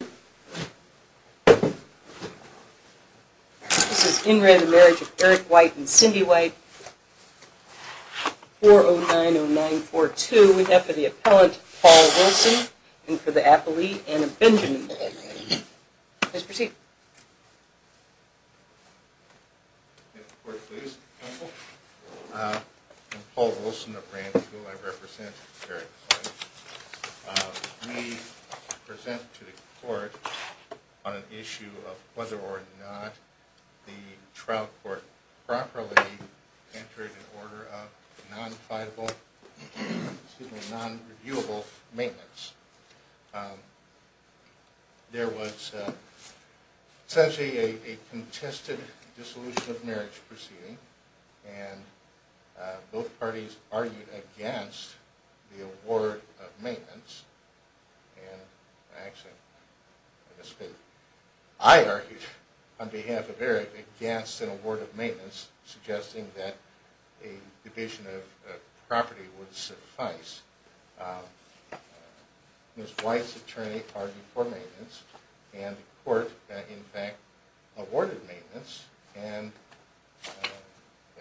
This is In Re Marriage of Eric White and Cindy White, 4090942, we have for the appellant Paul Wilson and for the appellee Anna Benjamin. Please proceed. I present to the court on an issue of whether or not the trial court properly entered an order of non-reviewable maintenance. There was essentially a contested dissolution of marriage proceeding and both parties argued against the award of maintenance. I argued on behalf of Eric against an award of maintenance suggesting that a division of property would suffice. Ms. White's attorney argued for maintenance and the court in fact awarded maintenance and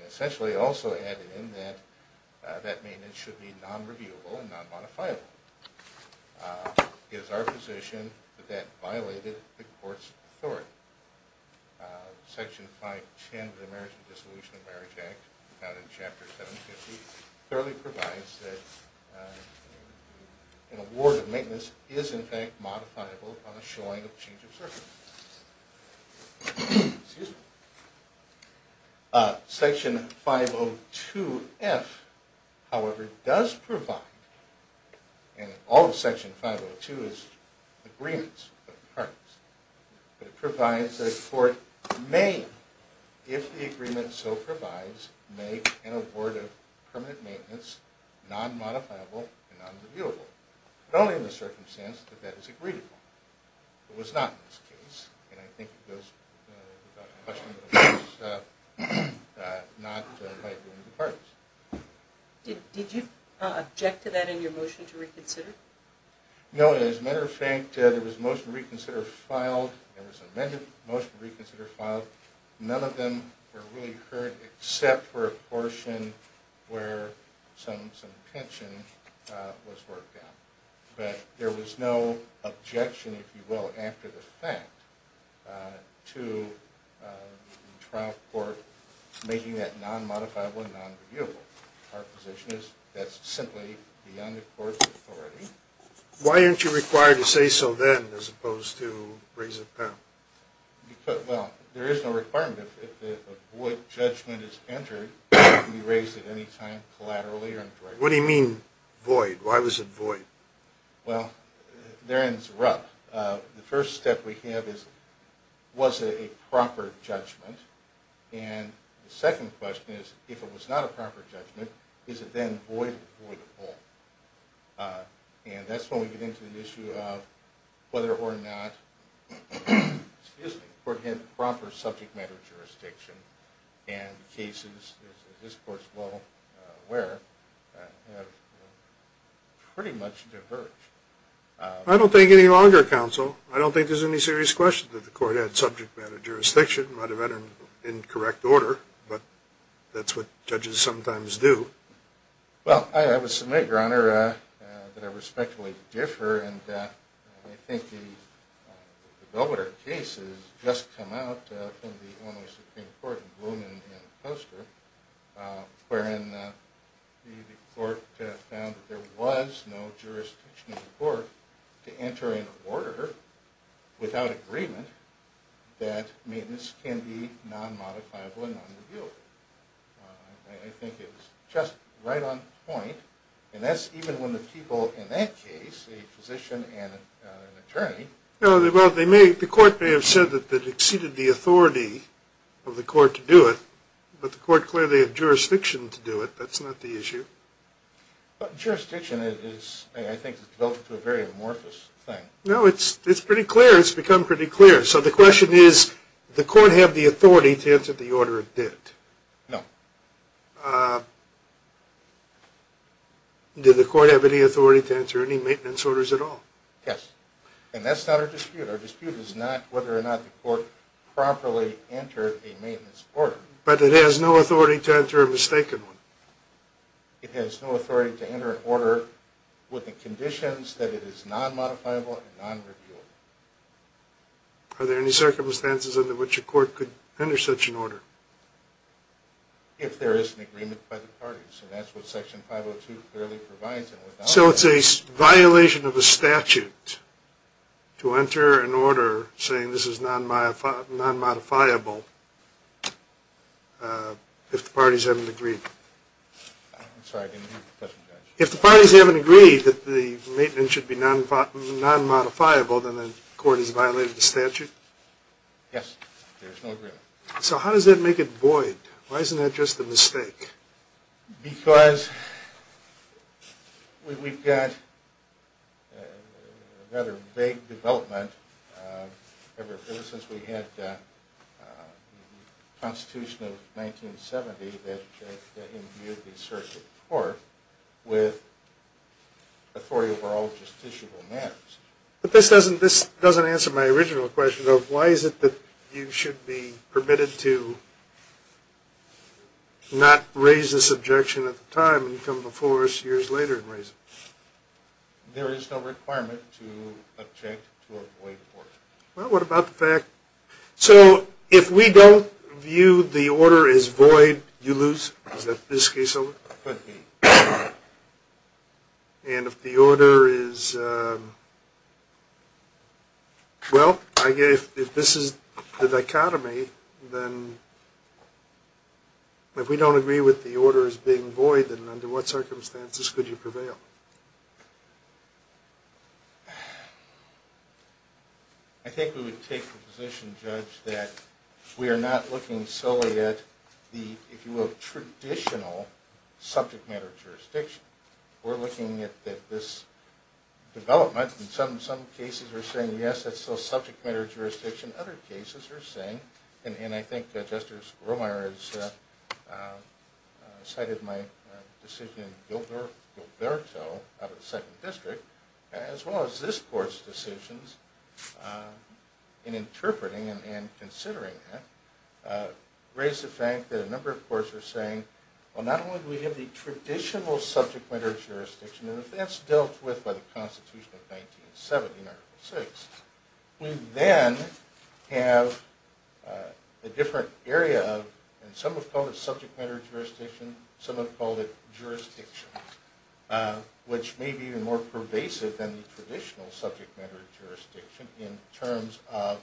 essentially also added in that that maintenance should be non-reviewable and non-modifiable. It is our position that that violated the court's authority. Section 510 of the Marriage and Dissolution of Marriage Act found in Chapter 750 clearly provides that an award of maintenance is in fact modifiable on a showing of change of circumstances. Excuse me. Section 502F however does provide and all of Section 502 is agreements of the parties. It provides that the court may, if the agreement so provides, make an award of permanent maintenance non-modifiable and non-reviewable. Only in the circumstance that that is agreeable. It was not in this case and I think it goes without question that it was not by agreement of the parties. Did you object to that in your motion to reconsider? No and as a matter of fact there was a motion to reconsider filed. There was an amended motion to reconsider filed. None of them were really heard except for a portion where some tension was worked out. But there was no objection if you will after the fact to the trial court making that non-modifiable and non-reviewable. Our position is that's simply beyond the court's authority. Why aren't you required to say so then as opposed to raise it now? Well there is no requirement. If a void judgment is entered it can be raised at any time collaterally or indirectly. What do you mean void? Why was it void? Well therein is a rub. The first step we have is was it a proper judgment? And the second question is if it was not a proper judgment is it then void or voidable? And that's when we get into the issue of whether or not the court had proper subject matter jurisdiction. And cases as this court is well aware have pretty much diverged. I don't think any longer counsel. I don't think there's any serious question that the court had subject matter jurisdiction. It might have been in incorrect order but that's what judges sometimes do. Well I have a submit your honor that I respectfully defer. And I think the Belvedere case has just come out from the Illinois Supreme Court in Bloomington in the poster. Wherein the court found that there was no jurisdiction in the court to enter in order without agreement that maintenance can be non-modifiable and non-reviewable. I think it was just right on point. And that's even when the people in that case, a physician and an attorney. Well the court may have said that it exceeded the authority of the court to do it. But the court clearly had jurisdiction to do it. That's not the issue. Jurisdiction I think has developed into a very amorphous thing. No it's pretty clear. It's become pretty clear. So the question is did the court have the authority to enter the order it did? No. Did the court have any authority to enter any maintenance orders at all? Yes. And that's not our dispute. Our dispute is not whether or not the court properly entered a maintenance order. But it has no authority to enter a mistaken one. It has no authority to enter an order with the conditions that it is non-modifiable and non-reviewable. Are there any circumstances under which a court could enter such an order? If there is an agreement by the parties. And that's what section 502 clearly provides. So it's a violation of a statute to enter an order saying this is non-modifiable if the parties haven't agreed. I'm sorry I didn't hear the question. If the parties haven't agreed that the maintenance should be non-modifiable then the court has violated the statute? Yes. There's no agreement. So how does that make it void? Why isn't that just a mistake? Because we've got a rather vague development ever since we had the Constitution of 1970 that imbued the circuit court with authority over all justiciable matters. But this doesn't answer my original question of why is it that you should be permitted to not raise this objection at the time and come before us years later and raise it? There is no requirement to object to a void order. Well, what about the fact... So if we don't view the order as void, you lose? Is that this case over? Could be. And if the order is... Well, if this is the dichotomy, then if we don't agree with the order as being void, then under what circumstances could you prevail? I think we would take the position, Judge, that we are not looking solely at the, if you will, traditional subject matter jurisdiction. We're looking at this development. In some cases we're saying, yes, that's still subject matter jurisdiction. Other cases we're saying, and I think Justice Romeyer has cited my decision in Gilberto out of the 2nd District, as well as this court's decisions in interpreting and considering it, raise the fact that a number of courts are saying, well, not only do we have the traditional subject matter jurisdiction, and if that's dealt with by the Constitution of 1970 in Article VI, we then have a different area of, and some have called it subject matter jurisdiction, some have called it jurisdiction, which may be even more pervasive than the traditional subject matter jurisdiction in terms of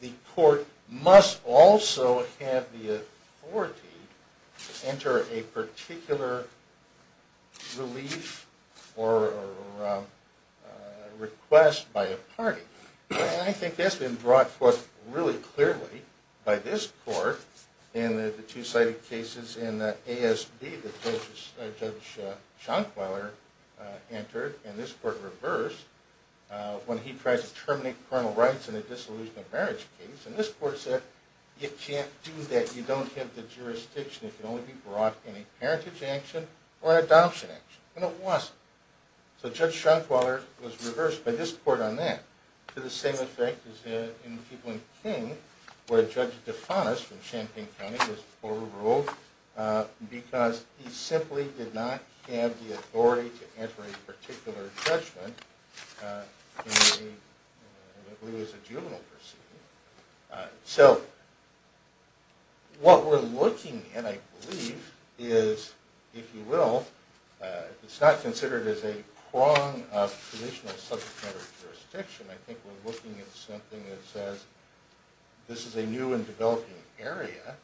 the court must also have the authority to enter a particular relief or request by a party. And I think that's been brought forth really clearly by this court in the two cited cases in ASB that Judge Schankweiler entered, and this court reversed, when he tried to terminate coronal rights in a disillusionment marriage case, and this court said, you can't do that, you don't have the jurisdiction, it can only be brought in a parentage action or an adoption action, and it wasn't. So Judge Schankweiler was reversed by this court on that, to the same effect as people in King, where Judge DeFanis from Champaign County was overruled because he simply did not have the authority to enter a particular judgment in a juvenile proceeding. So what we're looking at, I believe, is, if you will, it's not considered as a prong of traditional subject matter jurisdiction, I think we're looking at something that says this is a new and developing area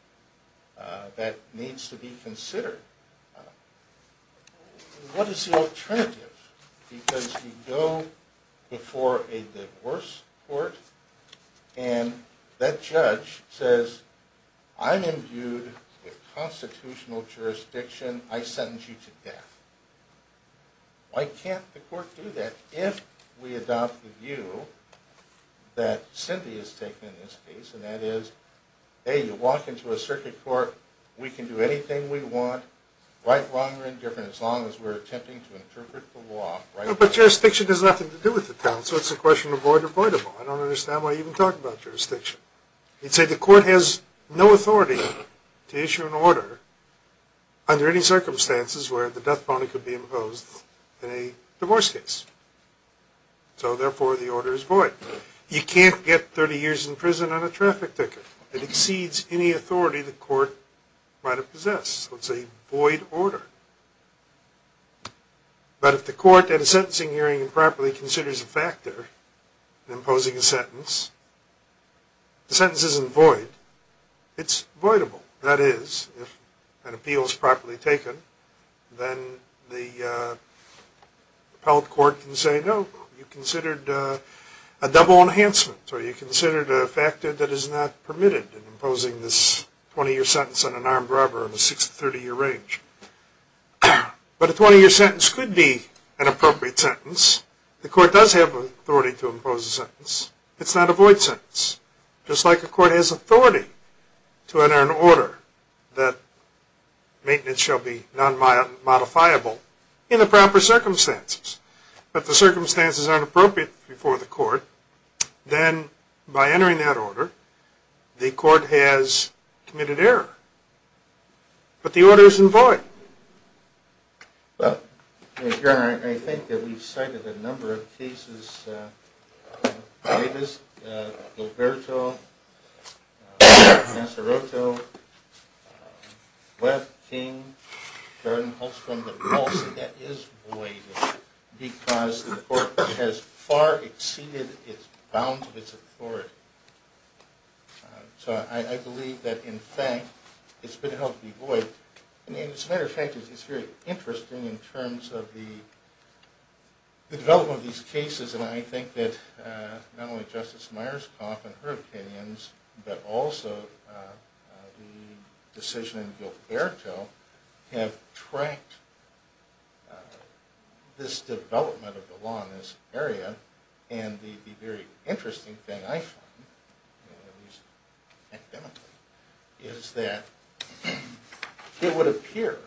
that needs to be considered. What is the alternative? Because you go before a divorce court, and that judge says, I'm imbued with constitutional jurisdiction, I sentence you to death. Why can't the court do that, if we adopt the view that Cindy has taken in this case, and that is, hey, you walk into a circuit court, we can do anything we want, right, wrong, or indifferent, as long as we're attempting to interpret the law. But jurisdiction has nothing to do with the town, so it's a question of void or voidable. I don't understand why you even talk about jurisdiction. You'd say the court has no authority to issue an order under any circumstances where the death penalty could be imposed in a divorce case. So therefore, the order is void. You can't get 30 years in prison on a traffic ticket. It exceeds any authority the court might have possessed. So it's a void order. But if the court at a sentencing hearing improperly considers a factor in imposing a sentence, the sentence isn't void. It's voidable. That is, if an appeal is properly taken, then the appellate court can say, no, you considered a double enhancement, or you considered a factor that is not permitted in imposing this 20-year sentence on an armed robber in the 60- to 30-year range. But a 20-year sentence could be an appropriate sentence. The court does have authority to impose a sentence. It's not a void sentence, just like a court has authority to enter an order that maintenance shall be non-modifiable in the proper circumstances. But if the circumstances aren't appropriate before the court, then by entering that order, the court has committed error. But the order isn't void. Well, Your Honor, I think that we've cited a number of cases. Davis, Loberto, Nassaroto, Webb, King, Garden-Hulstrum. But most of that is void, because the court has far exceeded its bounds of its authority. So I believe that, in fact, it's been held to be void. And as a matter of fact, it's very interesting in terms of the development of these cases. And I think that not only Justice Myerscough and her opinions, but also the decision in Guilter-Berto have tracked this development of the law in this area. And the very interesting thing I find, at least academically, is that it would appear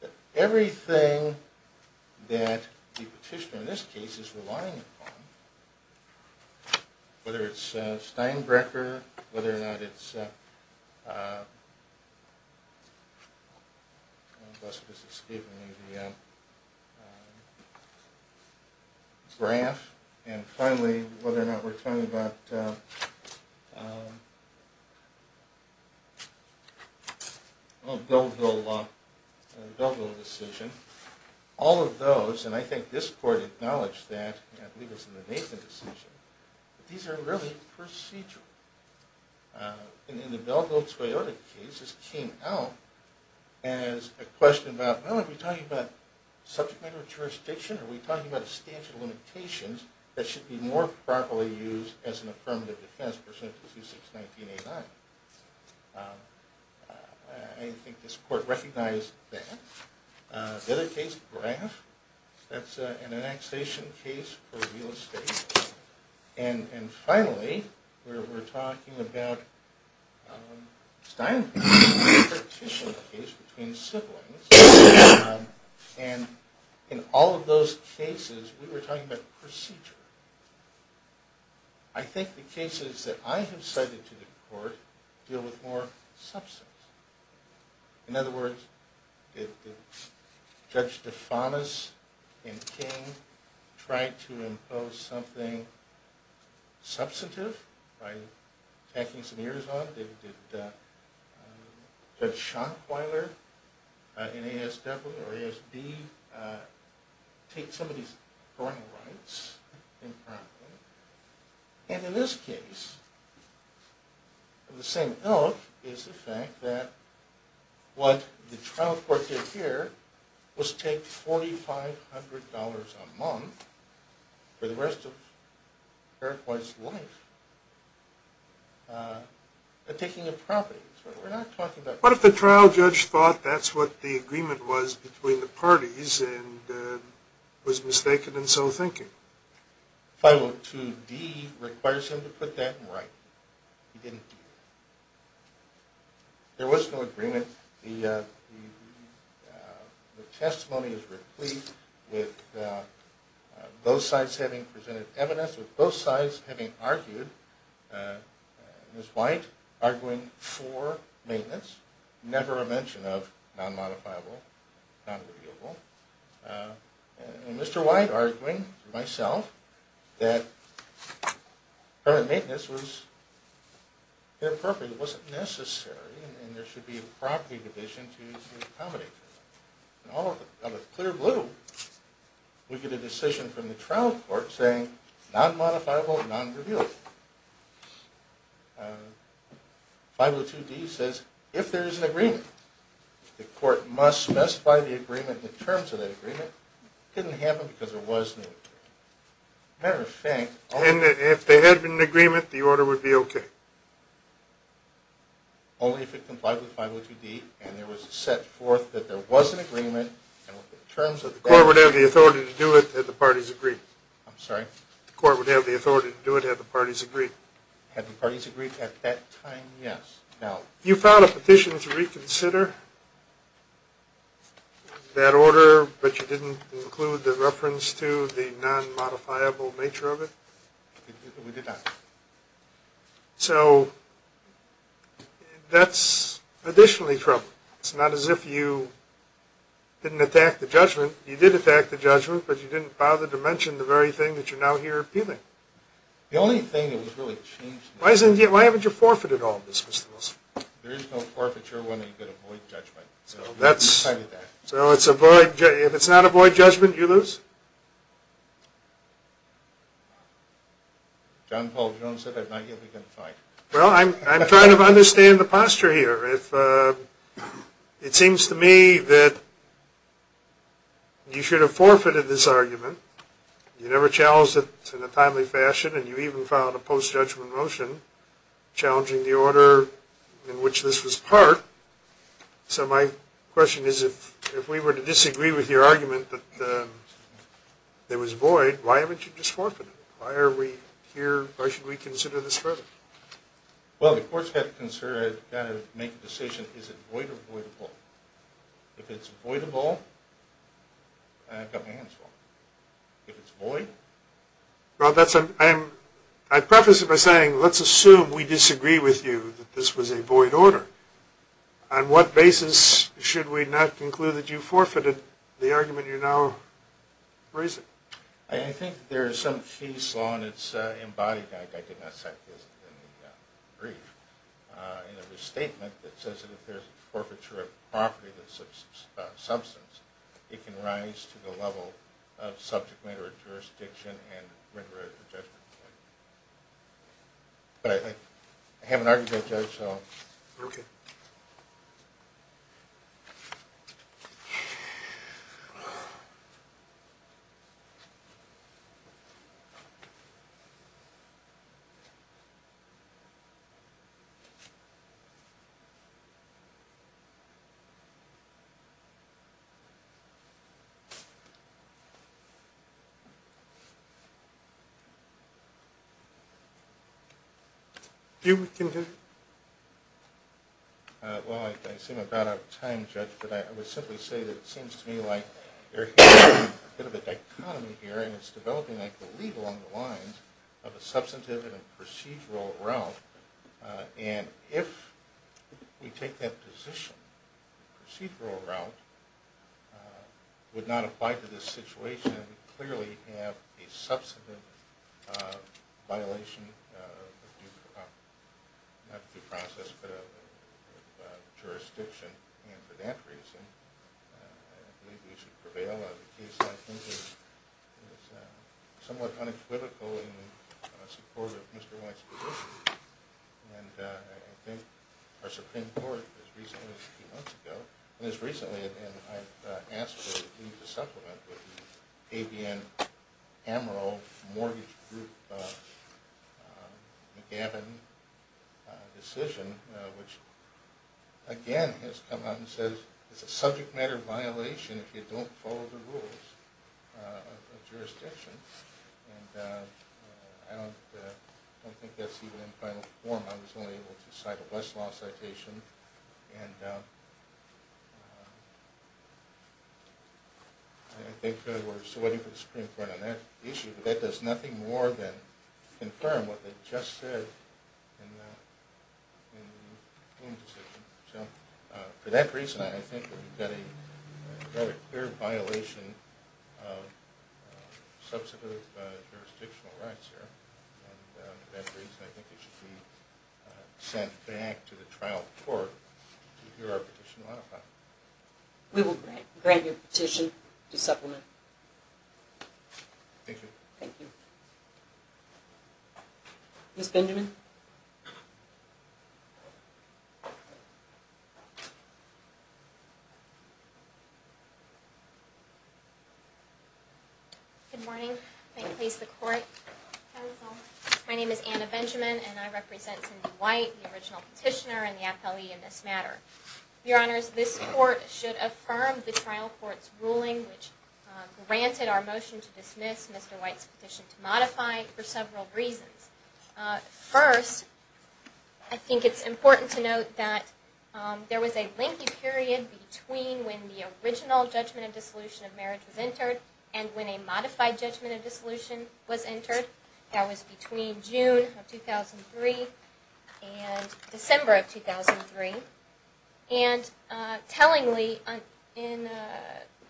that everything that the petitioner in this case is relying upon, whether it's Steinbrecher, whether or not it's... Grant, and finally whether or not we're talking about... Belville decision, all of those, and I think this court acknowledged that, and I believe it's in the Nathan decision, that these are really procedural. And in the Belville-Toyota case, this came out as a question about, well, are we talking about subject matter jurisdiction, or are we talking about a statute of limitations that should be more properly used as an affirmative defense, per sentence 2619A9? I think this court recognized that. The other case, Graff, that's an annexation case for real estate. And finally, we're talking about Steinbrecher, a petition case between siblings. And in all of those cases, we were talking about procedure. I think the cases that I have cited to the court deal with more substance. In other words, did Judge DeFanis and King try to impose something substantive by tacking some ears on it? Did Judge Schankweiler in ASW or ASD take some of these parental rights impromptu? And in this case, of the same ilk, is the fact that what the trial court did here was take $4,500 a month for the rest of Fairfax's life. They're taking impromptu. What if the trial judge thought that's what the agreement was between the parties and was mistaken in so thinking? 502D requires him to put that in writing. He didn't do that. There was no agreement. I think the testimony is replete with both sides having presented evidence, with both sides having argued. Ms. White arguing for maintenance, never a mention of non-modifiable, non-reviewable. And Mr. White arguing for myself that permanent maintenance was inappropriate, it wasn't necessary, and there should be a property division to accommodate. In all of the clear blue, we get a decision from the trial court saying non-modifiable, non-reviewable. 502D says if there is an agreement, the court must specify the agreement in terms of that agreement. It didn't happen because there was no agreement. Matter of fact... And if there had been an agreement, the order would be okay? Only if it complied with 502D and it was set forth that there was an agreement and in terms of... The court would have the authority to do it had the parties agreed. I'm sorry? The court would have the authority to do it had the parties agreed. Had the parties agreed at that time, yes. You filed a petition to reconsider that order, but you didn't include the reference to the non-modifiable nature of it? We did not. So that's additionally troubling. It's not as if you didn't attack the judgment. But you didn't bother to mention the very thing that you're now here appealing? The only thing that was really changed... Why haven't you forfeited all of this, Mr. Wilson? There is no forfeiture when you can avoid judgment. So if it's not avoid judgment, you lose? John Paul Jones said I've not yet begun to fight. Well, I'm trying to understand the posture here. It seems to me that you should have forfeited this argument. You never challenged it in a timely fashion and you even filed a post-judgment motion challenging the order in which this was part. So my question is if we were to disagree with your argument that there was void, why haven't you just forfeited it? Why are we here? Why should we consider this further? Well, the court's got to make a decision. Is it void or voidable? If it's voidable, I've got my hands full. If it's void... Well, I preface it by saying let's assume we disagree with you that this was a void order. On what basis should we not conclude that you forfeited the argument you're now raising? I think there's some case law and it's embodied. I did not cite this in the brief. In a restatement, it says that if there's a forfeiture of property that's a substance, it can rise to the level of subject matter jurisdiction and render it a judgment. But I haven't argued that judge, so... Okay. Thank you. Hugh, we can hear you. Well, I seem to have run out of time, Judge, but I would simply say that it seems to me like there's a bit of a dichotomy here and it's developing, I believe, along the lines of a substantive and a procedural route. And if we take that position, the procedural route would not apply to this situation and we clearly have a substantive violation of not due process but of jurisdiction and for that reason I believe we should prevail on the case. I think it's somewhat unequivocal in support of Mr. White's position and I think our Supreme Court as recently as a few months ago, and as recently as I've asked for you to supplement with the ABN Amaral Mortgage Group McGavin decision, which again has come out and says it's a subject matter violation if you don't follow the rules of jurisdiction. And I don't think that's even in final form. I was only able to cite a Westlaw citation and I think we're still waiting for the Supreme Court on that issue, but that does nothing more than confirm what they just said in the ruling decision. So for that reason I think that we've got a very clear violation of substantive jurisdictional rights here and for that reason I think it should be sent back to the trial court to hear our petition modified. We will grant your petition to supplement. Thank you. Thank you. Ms. Benjamin? Ms. Benjamin? Good morning. May it please the Court. My name is Anna Benjamin and I represent Cindy White, the original petitioner and the appellee in this matter. Your Honors, this Court should affirm the trial court's ruling First, I think it's important to note that there was a lengthy period between when the original judgment of dissolution of marriage was entered and when a modified judgment of dissolution was entered. That was between June of 2003 and December of 2003. And tellingly, in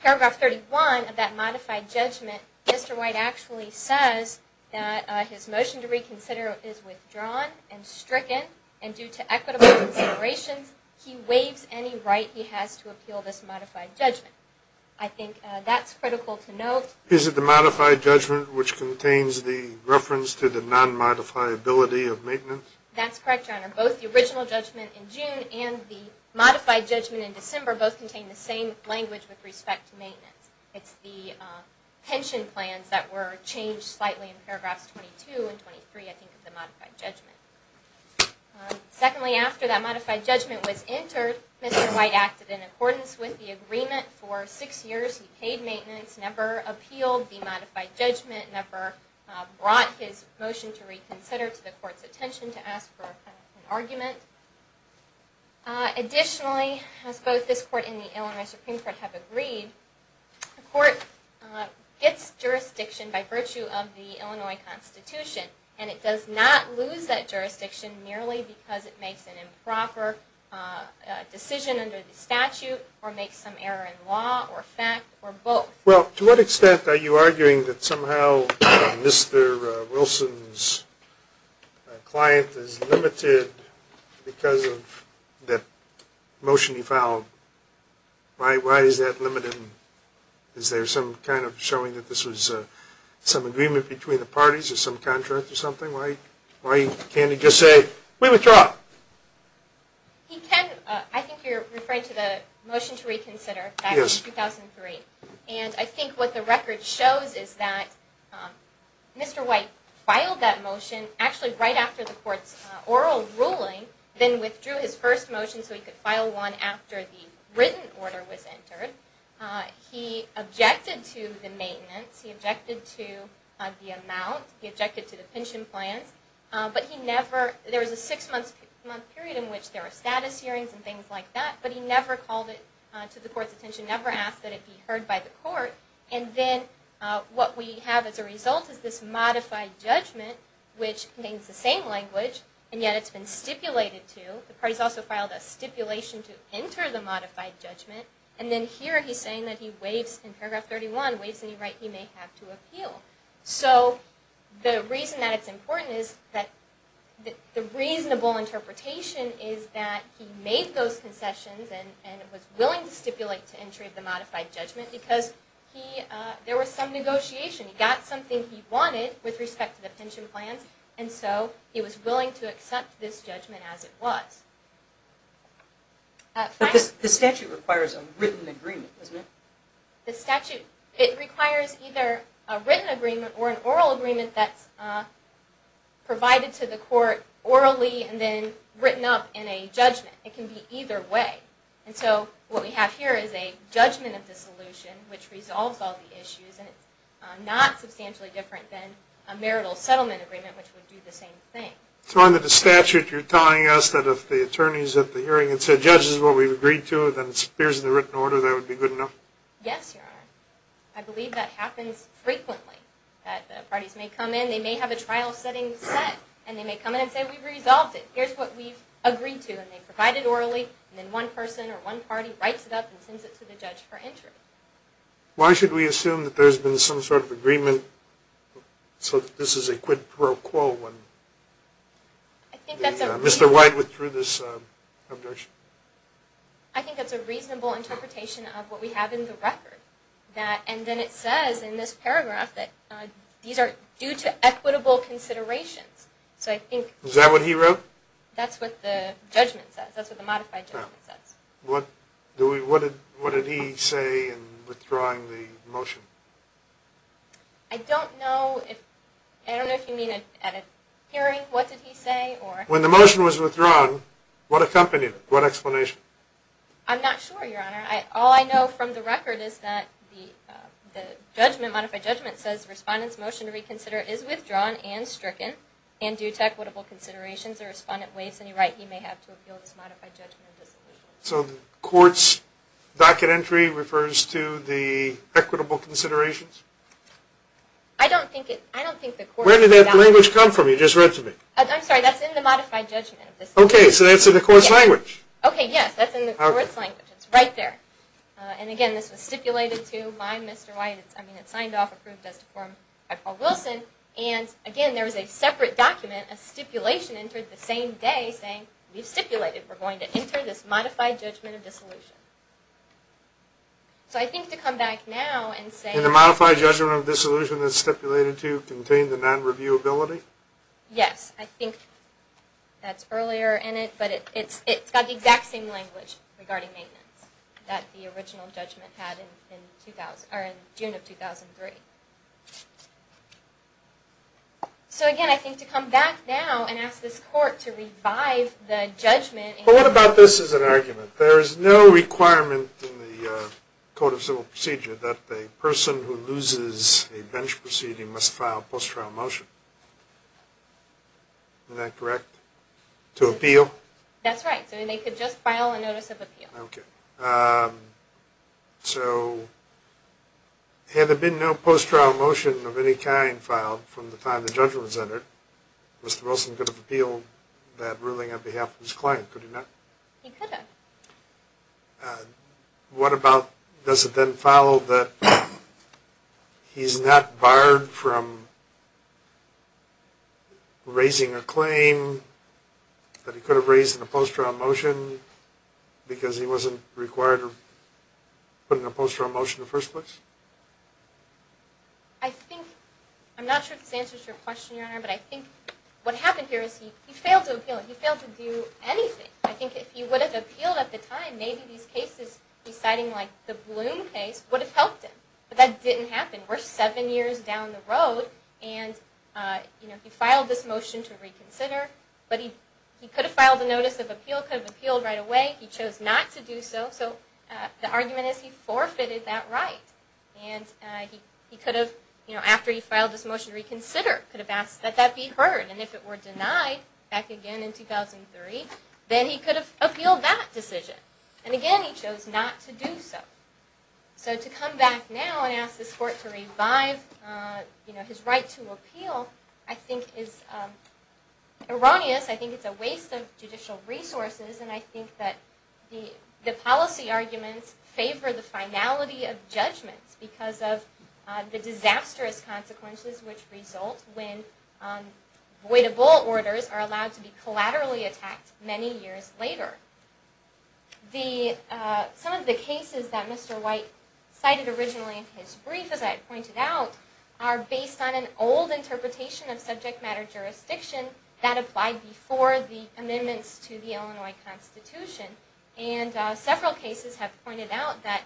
paragraph 31 of that modified judgment, Mr. White actually says that his motion to reconsider is withdrawn and stricken and due to equitable considerations, he waives any right he has to appeal this modified judgment. I think that's critical to note. Is it the modified judgment which contains the reference to the non-modifiability of maintenance? That's correct, Your Honor. Both the original judgment in June and the modified judgment in December both contain the same language with respect to maintenance. It's the pension plans that were changed slightly in paragraphs 22 and 23, I think, of the modified judgment. Secondly, after that modified judgment was entered, Mr. White acted in accordance with the agreement for six years. He paid maintenance, never appealed the modified judgment, never brought his motion to reconsider to the Court's attention to ask for an argument. Additionally, as both this Court and the Illinois Supreme Court have agreed, the Court gets jurisdiction by virtue of the Illinois Constitution and it does not lose that jurisdiction merely because it makes an improper decision under the statute or makes some error in law or fact or both. Well, to what extent are you arguing that somehow Mr. Wilson's client is limited because of that motion he filed? Why is that limited? Is there some kind of showing that this was some agreement between the parties or some contract or something? Why can't he just say, we withdraw? He can. I think you're referring to the motion to reconsider back in 2003. And I think what the record shows is that Mr. White filed that motion actually right after the Court's oral ruling, then withdrew his first motion so he could file one after the written order was entered. He objected to the maintenance. He objected to the amount. He objected to the pension plans. But he never, there was a six-month period in which there were status hearings and things like that, but he never called it to the Court's attention, never asked that it be heard by the Court. And then what we have as a result is this modified judgment which contains the same language, and yet it's been stipulated to. The parties also filed a stipulation to enter the modified judgment. And then here he's saying that he waives, in paragraph 31, waives any right he may have to appeal. So the reason that it's important is that the reasonable interpretation is that he made those concessions and was willing to stipulate to entry of the modified judgment because there was some negotiation. He got something he wanted with respect to the pension plans, and so he was willing to accept this judgment as it was. But the statute requires a written agreement, doesn't it? The statute, it requires either a written agreement or an oral agreement that's provided to the Court orally and then written up in a judgment. It can be either way. And so what we have here is a judgment of dissolution which resolves all the issues, and it's not substantially different than a marital settlement agreement which would do the same thing. So under the statute, you're telling us that if the attorneys at the hearing had said, Judge, this is what we've agreed to, then it appears in the written order, that would be good enough? Yes, Your Honor. I believe that happens frequently, that the parties may come in, they may have a trial setting set, and they may come in and say, We've resolved it. Here's what we've agreed to. And they provide it orally, and then one person or one party writes it up and sends it to the judge for entry. Why should we assume that there's been some sort of agreement so that this is a quid pro quo when Mr. White withdrew this objection? I think that's a reasonable interpretation of what we have in the record. And then it says in this paragraph that these are due to equitable considerations. Is that what he wrote? That's what the judgment says. That's what the modified judgment says. What did he say in withdrawing the motion? I don't know if you mean at a hearing, what did he say? When the motion was withdrawn, what accompanied it? What explanation? I'm not sure, Your Honor. All I know from the record is that the modified judgment says, Respondent's motion to reconsider is withdrawn and stricken and due to equitable considerations. He may have to appeal this modified judgment. So the court's docket entry refers to the equitable considerations? I don't think it does. Where did that language come from? You just read to me. I'm sorry, that's in the modified judgment. Okay, so that's in the court's language. Okay, yes, that's in the court's language. It's right there. And again, this was stipulated to by Mr. White. It's signed off, approved as to form by Paul Wilson. And again, there was a separate document, a stipulation, entered the same day saying, We've stipulated we're going to enter this modified judgment of dissolution. So I think to come back now and say... Did the modified judgment of dissolution that it's stipulated to contain the non-reviewability? Yes, I think that's earlier in it, but it's got the exact same language regarding maintenance that the original judgment had in June of 2003. So again, I think to come back now and ask this court to revive the judgment... But what about this as an argument? There is no requirement in the Code of Civil Procedure that the person who loses a bench proceeding must file a post-trial motion. Isn't that correct? To appeal? That's right. So they could just file a notice of appeal. Okay. So had there been no post-trial motion of any kind filed from the time the judgment was entered, Mr. Wilson could have appealed that ruling on behalf of his client, could he not? He could have. What about, does it then follow that he's not barred from raising a claim that he could have raised in a post-trial motion because he wasn't required to put in a post-trial motion in the first place? I think, I'm not sure if this answers your question, Your Honor, but I think what happened here is he failed to appeal. He failed to do anything. I think if he would have appealed at the time, maybe these cases deciding like the Bloom case would have helped him. But that didn't happen. We're seven years down the road, and he filed this motion to reconsider. But he could have filed a notice of appeal, could have appealed right away. He chose not to do so. So the argument is he forfeited that right. And he could have, after he filed this motion to reconsider, could have asked that that be heard. And if it were denied back again in 2003, then he could have appealed that decision. And again, he chose not to do so. So to come back now and ask this court to revive his right to appeal, I think is erroneous. I think it's a waste of judicial resources. And I think that the policy arguments favor the finality of judgment because of the disastrous consequences which result when voidable orders are allowed to be collaterally attacked many years later. Some of the cases that Mr. White cited originally in his brief, as I had pointed out, are based on an old interpretation of subject matter jurisdiction that applied before the amendments to the Illinois Constitution. And several cases have pointed out that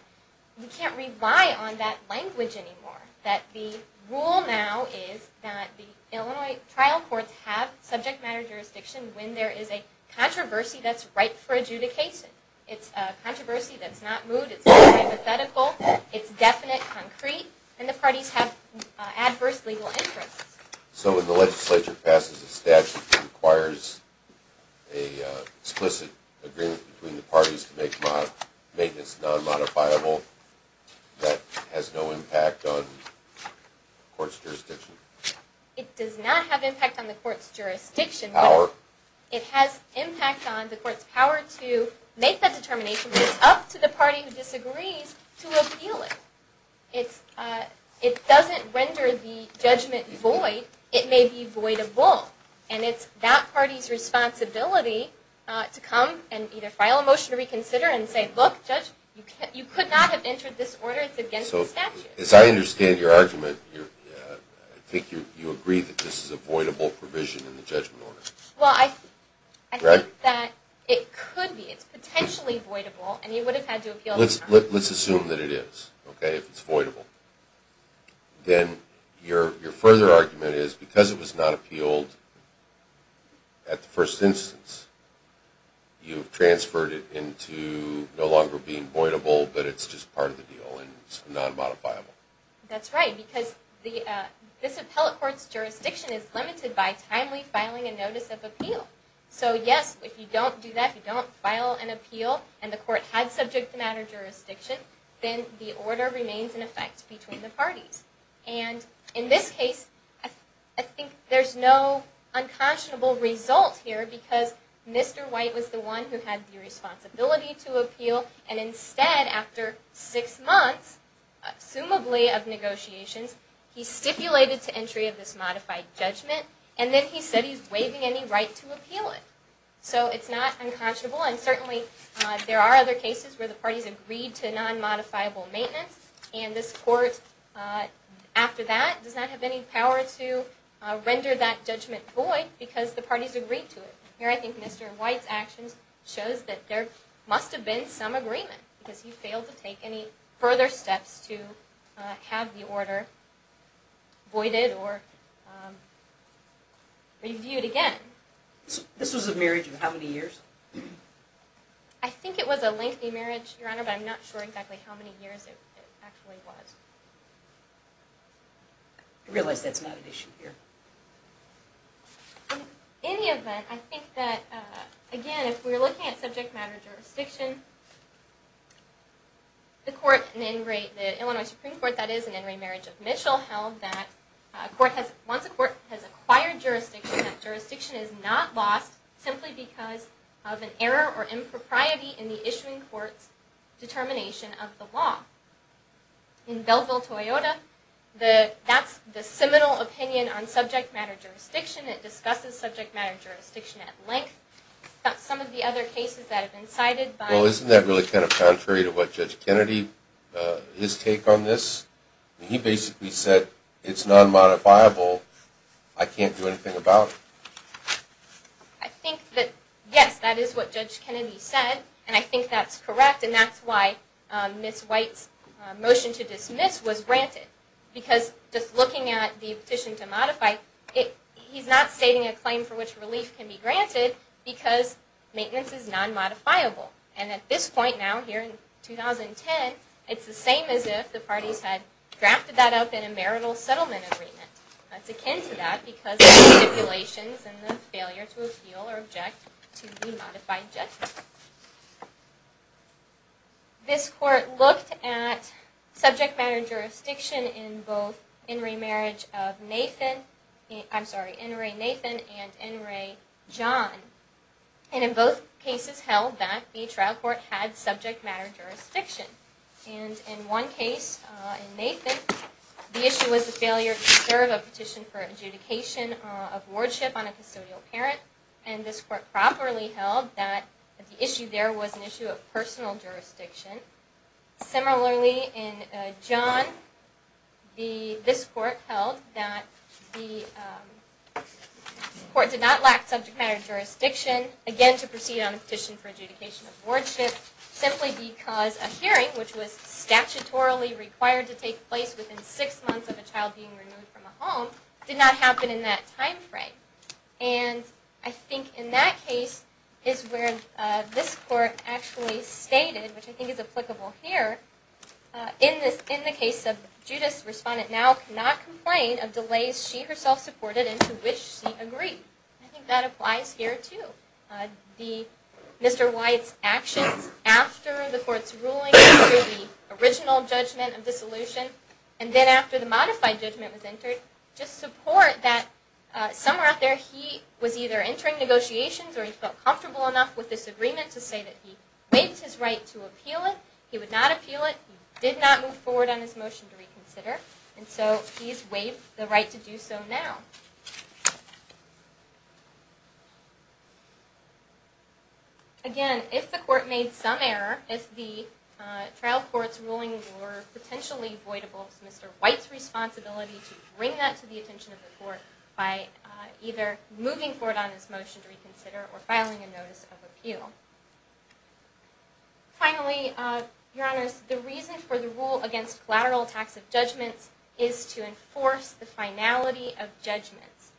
we can't rely on that language anymore. That the rule now is that the Illinois trial courts have subject matter jurisdiction when there is a controversy that's ripe for adjudication. It's a controversy that's not moot, it's not hypothetical, it's definite, concrete, and the parties have adverse legal interests. So when the legislature passes a statute that requires an explicit agreement between the parties to make maintenance non-modifiable, that has no impact on the court's jurisdiction? It does not have impact on the court's jurisdiction. It has impact on the court's power to make that determination, but it's up to the party who disagrees to appeal it. It doesn't render the judgment void. It may be voidable. And it's that party's responsibility to come and either file a motion to reconsider and say, look, judge, you could not have entered this order. It's against the statute. As I understand your argument, I think you agree that this is a voidable provision in the judgment order. Well, I think that it could be. It's potentially voidable, and you would have had to appeal it. Let's assume that it is, okay, if it's voidable. Then your further argument is because it was not appealed at the first instance, you've transferred it into no longer being voidable, but it's just part of the deal and it's non-modifiable. That's right. Because this appellate court's jurisdiction is limited by timely filing a notice of appeal. So, yes, if you don't do that, if you don't file an appeal, and the court had subject-to-matter jurisdiction, then the order remains in effect between the parties. And in this case, I think there's no unconscionable result here And instead, after six months, assumably, of negotiations, he stipulated to entry of this modified judgment, and then he said he's waiving any right to appeal it. So it's not unconscionable, and certainly there are other cases where the parties agreed to non-modifiable maintenance, and this court, after that, does not have any power to render that judgment void because the parties agreed to it. Here I think Mr. White's actions shows that there must have been some agreement because he failed to take any further steps to have the order voided or reviewed again. This was a marriage of how many years? I think it was a lengthy marriage, Your Honor, but I'm not sure exactly how many years it actually was. I realize that's not an issue here. In any event, I think that, again, if we're looking at subject matter jurisdiction, the court, the Illinois Supreme Court, that is, in Henry Marriage of Mitchell, held that once a court has acquired jurisdiction, that jurisdiction is not lost simply because of an error or impropriety in the issuing court's determination of the law. In Belleville-Toyota, that's the seminal opinion on subject matter jurisdiction. It discusses subject matter jurisdiction at length. Some of the other cases that have been cited by... Well, isn't that really kind of contrary to what Judge Kennedy, his take on this? He basically said it's non-modifiable. I can't do anything about it. I think that, yes, that is what Judge Kennedy said, and I think that's correct, and that's why Ms. White's motion to dismiss was granted. Because just looking at the petition to modify, he's not stating a claim for which relief can be granted because maintenance is non-modifiable. And at this point now, here in 2010, it's the same as if the parties had drafted that up in a marital settlement agreement. That's akin to that because of stipulations and the failure to appeal or object to the modified judgment. This court looked at subject matter jurisdiction in both N. Ray Nathan and N. Ray John. And in both cases held that the trial court had subject matter jurisdiction. And in one case, in Nathan, the issue was the failure to serve a petition for adjudication of wardship on a custodial parent, and this court properly held that the issue there was an issue of personal jurisdiction. Similarly, in John, this court held that the court did not lack subject matter jurisdiction, again, to proceed on a petition for adjudication of wardship, simply because a hearing, which was statutorily required to take place within six months of a child being removed from a home, did not happen in that time frame. And I think in that case is where this court actually stated, which I think is applicable here, in the case of Judas, respondent now cannot complain of delays she herself supported and to which she agreed. I think that applies here too. Mr. Wyatt's actions after the court's ruling, after the original judgment of dissolution, and then after the modified judgment was entered, just support that somewhere out there he was either entering negotiations or he felt comfortable enough with this agreement to say that he waived his right to appeal it. He would not appeal it. He did not move forward on his motion to reconsider. And so he's waived the right to do so now. Again, if the court made some error, if the trial court's ruling were potentially voidable, it's Mr. Wyatt's responsibility to bring that to the attention of the court by either moving forward on his motion to reconsider or filing a notice of appeal. Finally, Your Honors, the reason for the rule against collateral tax of judgments is to enforce the finality of judgments.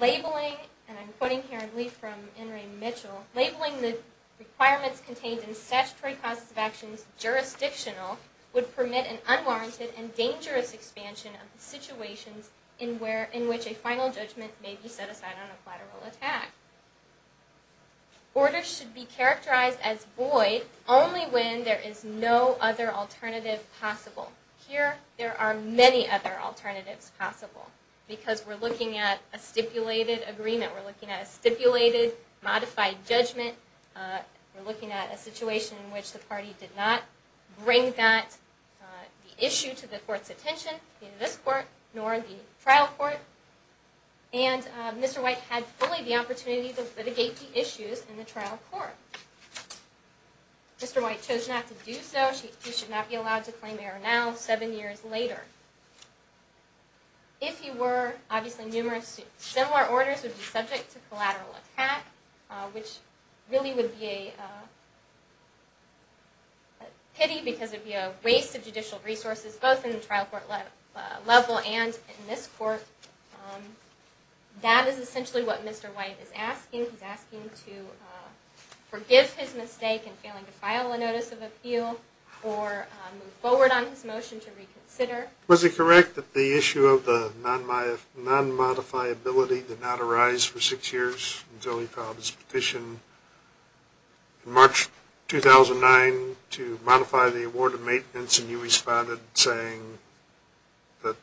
Labeling, and I'm quoting here a brief from In re Mitchell, labeling the requirements contained in statutory causes of actions jurisdictional would permit an unwarranted and dangerous expansion of the situations in which a final judgment may be set aside on a collateral attack. Orders should be characterized as void only when there is no other alternative possible. Here, there are many other alternatives possible because we're looking at a stipulated agreement. We're looking at a stipulated modified judgment. We're looking at a situation in which the party did not bring that issue to the court's attention, neither this court nor the trial court. And Mr. Wyatt had fully the opportunity to litigate the issues in the trial court. Mr. Wyatt chose not to do so. He should not be allowed to claim error now, seven years later. If he were, obviously numerous similar orders would be subject to collateral attack, which really would be a pity because it would be a waste of judicial resources, both in the trial court level and in this court. That is essentially what Mr. Wyatt is asking. He's asking to forgive his mistake in failing to file a notice of appeal or move forward on his motion to reconsider. Was it correct that the issue of the non-modifiability did not arise for six years until he filed his petition in March 2009 to modify the award of maintenance, and you responded saying that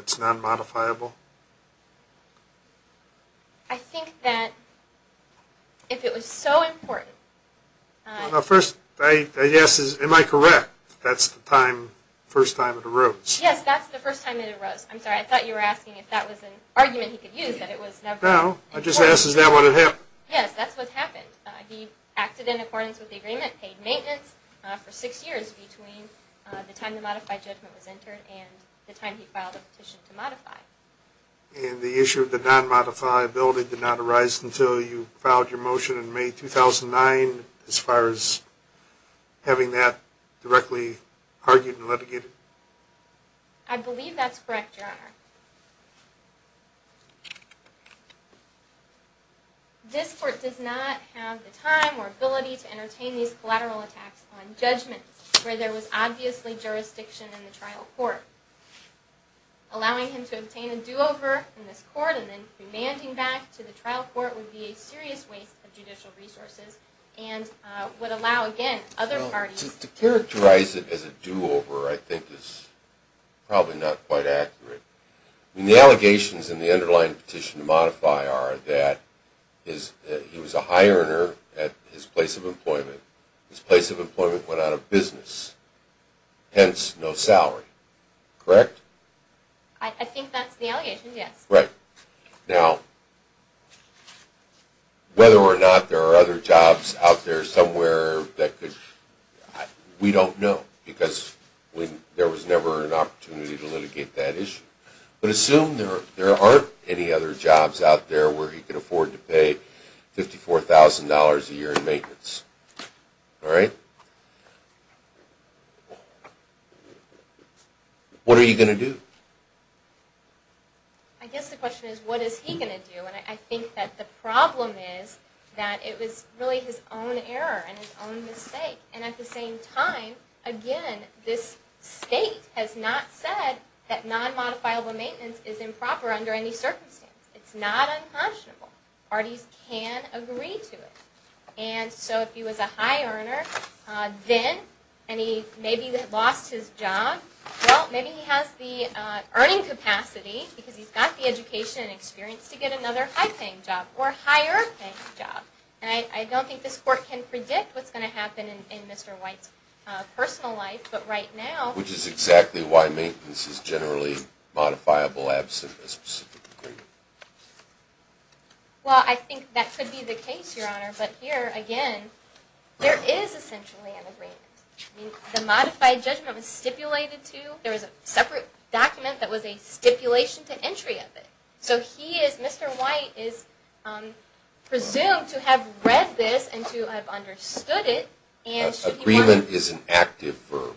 it's non-modifiable? I think that if it was so important... My first yes is, am I correct? That's the first time it arose? Yes, that's the first time it arose. I'm sorry, I thought you were asking if that was an argument he could use that it was never... No, I just asked is that what had happened? Yes, that's what happened. He acted in accordance with the agreement, paid maintenance for six years between the time the modified judgment was entered and the time he filed a petition to modify. And the issue of the non-modifiability did not arise until you filed your motion in May 2009 as far as having that directly argued and litigated? I believe that's correct, Your Honor. This court does not have the time or ability to entertain these collateral attacks on judgments where there was obviously jurisdiction in the trial court. Allowing him to obtain a do-over in this court and then remanding back to the trial court would be a serious waste of judicial resources and would allow, again, other parties... To characterize it as a do-over I think is probably not quite accurate. The allegations in the underlying petition to modify are that he was a high earner at his place of employment. His place of employment went out of business. Hence, no salary. Correct? I think that's the allegation, yes. Right. Now, whether or not there are other jobs out there somewhere that could... We don't know because there was never an opportunity to litigate that issue. But assume there aren't any other jobs out there where he could afford to pay $54,000 a year in maintenance. All right? What are you going to do? I guess the question is, what is he going to do? And I think that the problem is that it was really his own error and his own mistake. And at the same time, again, this state has not said that non-modifiable maintenance is improper under any circumstance. It's not unconscionable. Parties can agree to it. And so if he was a high earner, then, and he maybe lost his job, well, maybe he has the earning capacity because he's got the education and experience to get another high-paying job or higher-paying job. And I don't think this court can predict what's going to happen in Mr. White's personal life. But right now... Which is exactly why maintenance is generally modifiable absent a specific agreement. Well, I think that could be the case, Your Honor. But here, again, there is essentially an agreement. I mean, the modified judgment was stipulated to, there was a separate document that was a stipulation to entry of it. So he is, Mr. White is presumed to have read this and to have understood it, and should he want to... That agreement is an active verb.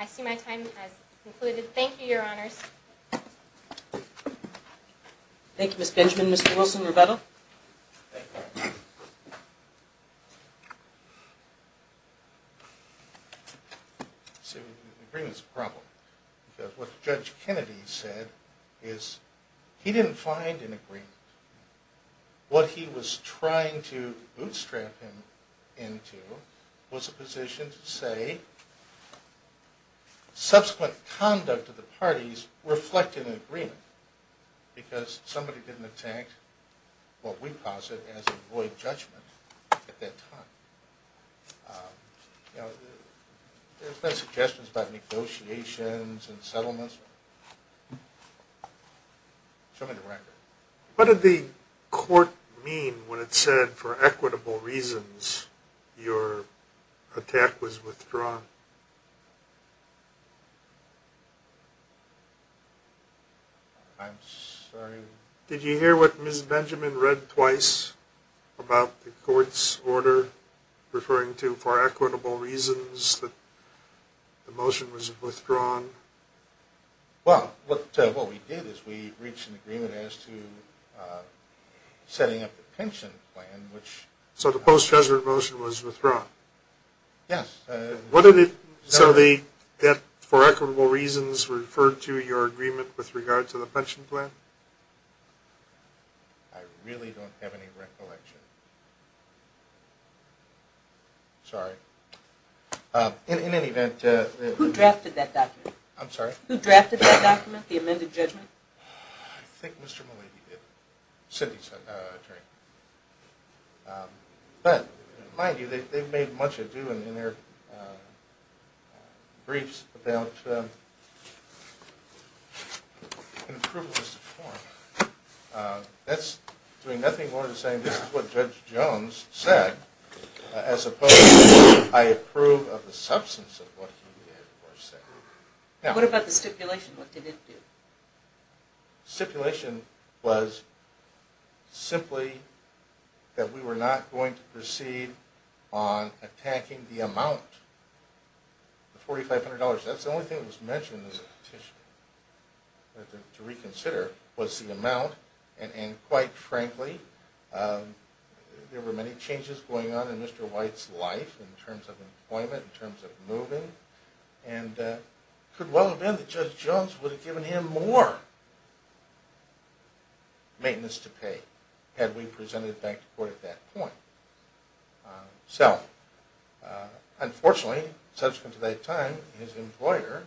I see my time has concluded. Thank you, Your Honors. Thank you, Ms. Benjamin. Mr. Wilson, rebuttal? See, agreement is a problem. Because what Judge Kennedy said is he didn't find an agreement. What he was trying to bootstrap him into was a position to say, subsequent conduct of the parties reflected an agreement. Because somebody didn't attack what we posit as a void judgment at that time. You know, there's been suggestions about negotiations and settlements. Show me the record. What did the court mean when it said, for equitable reasons, your attack was withdrawn? I'm sorry? Did you hear what Ms. Benjamin read twice about the court's order referring to, for equitable reasons, that the motion was withdrawn? Well, what we did is we reached an agreement as to setting up the pension plan, which... So the post-judgment motion was withdrawn? Yes. So the debt, for equitable reasons, referred to your agreement with regard to the pension plan? I really don't have any recollection. Sorry. In any event... Who drafted that document? I'm sorry? Who drafted that document, the amended judgment? I think Mr. Malibu did. Cindy's attorney. But, mind you, they've made much ado in their briefs about an approvalist's form. That's doing nothing more than saying, this is what Judge Jones said, as opposed to, I approve of the substance of what he did or said. What about the stipulation? What did it do? The stipulation was simply that we were not going to proceed on attacking the amount. The $4,500, that's the only thing that was mentioned in the petition to reconsider, was the amount. And quite frankly, there were many changes going on in Mr. White's life, in terms of employment, in terms of moving. And it could well have been that Judge Jones would have given him more maintenance to pay, had we presented it back to court at that point. So, unfortunately, subsequent to that time, his employer,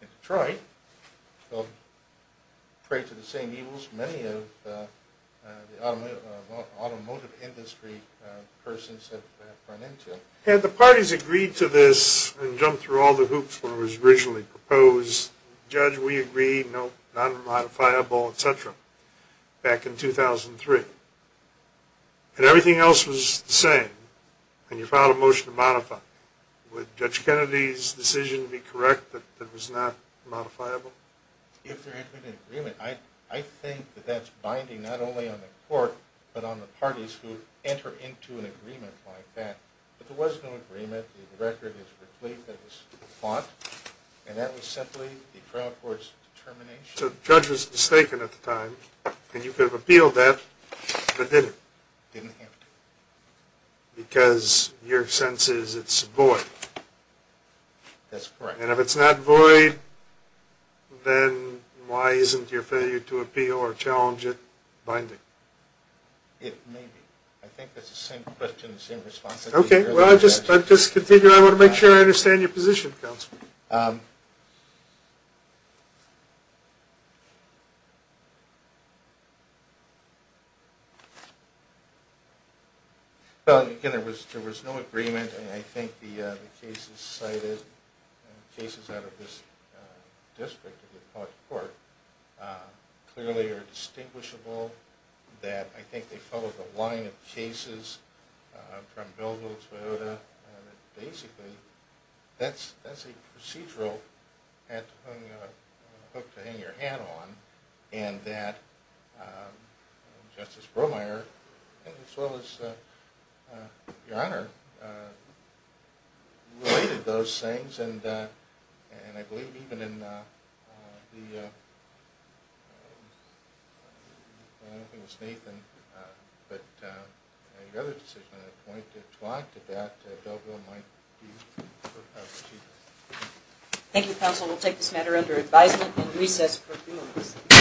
in Detroit, will pray to the same evils many of the automotive industry persons have run into. Had the parties agreed to this and jumped through all the hoops when it was originally proposed, judge, we agree, no, not modifiable, etc., back in 2003, and everything else was the same, and you filed a motion to modify it, would Judge Kennedy's decision be correct that it was not modifiable? If there had been an agreement, I think that that's binding not only on the court, but on the parties who enter into an agreement like that. But there was no agreement. The record is replete with this font, and that was simply the trial court's determination. So the judge was mistaken at the time, and you could have appealed that, but didn't. Didn't have to. Because your sense is it's void. That's correct. And if it's not void, then why isn't your failure to appeal or challenge it binding? It may be. I think that's the same question, the same response. Okay. Well, I just want to make sure I understand your position, Counselor. Well, again, there was no agreement, and I think the cases cited, cases out of this district of the appellate court, clearly are distinguishable, that I think they follow the line of cases from Bilbo, Toyota, that basically that's a procedural hook to hang your hat on, and that Justice Bromeyer, as well as your Honor, related those things. And I believe even in the, I don't know if it was Nathan, but your other decision at that point, to add to that, Bilbo might be the chief. Thank you, Counselor. We'll take this matter under advisement and recess for a few minutes.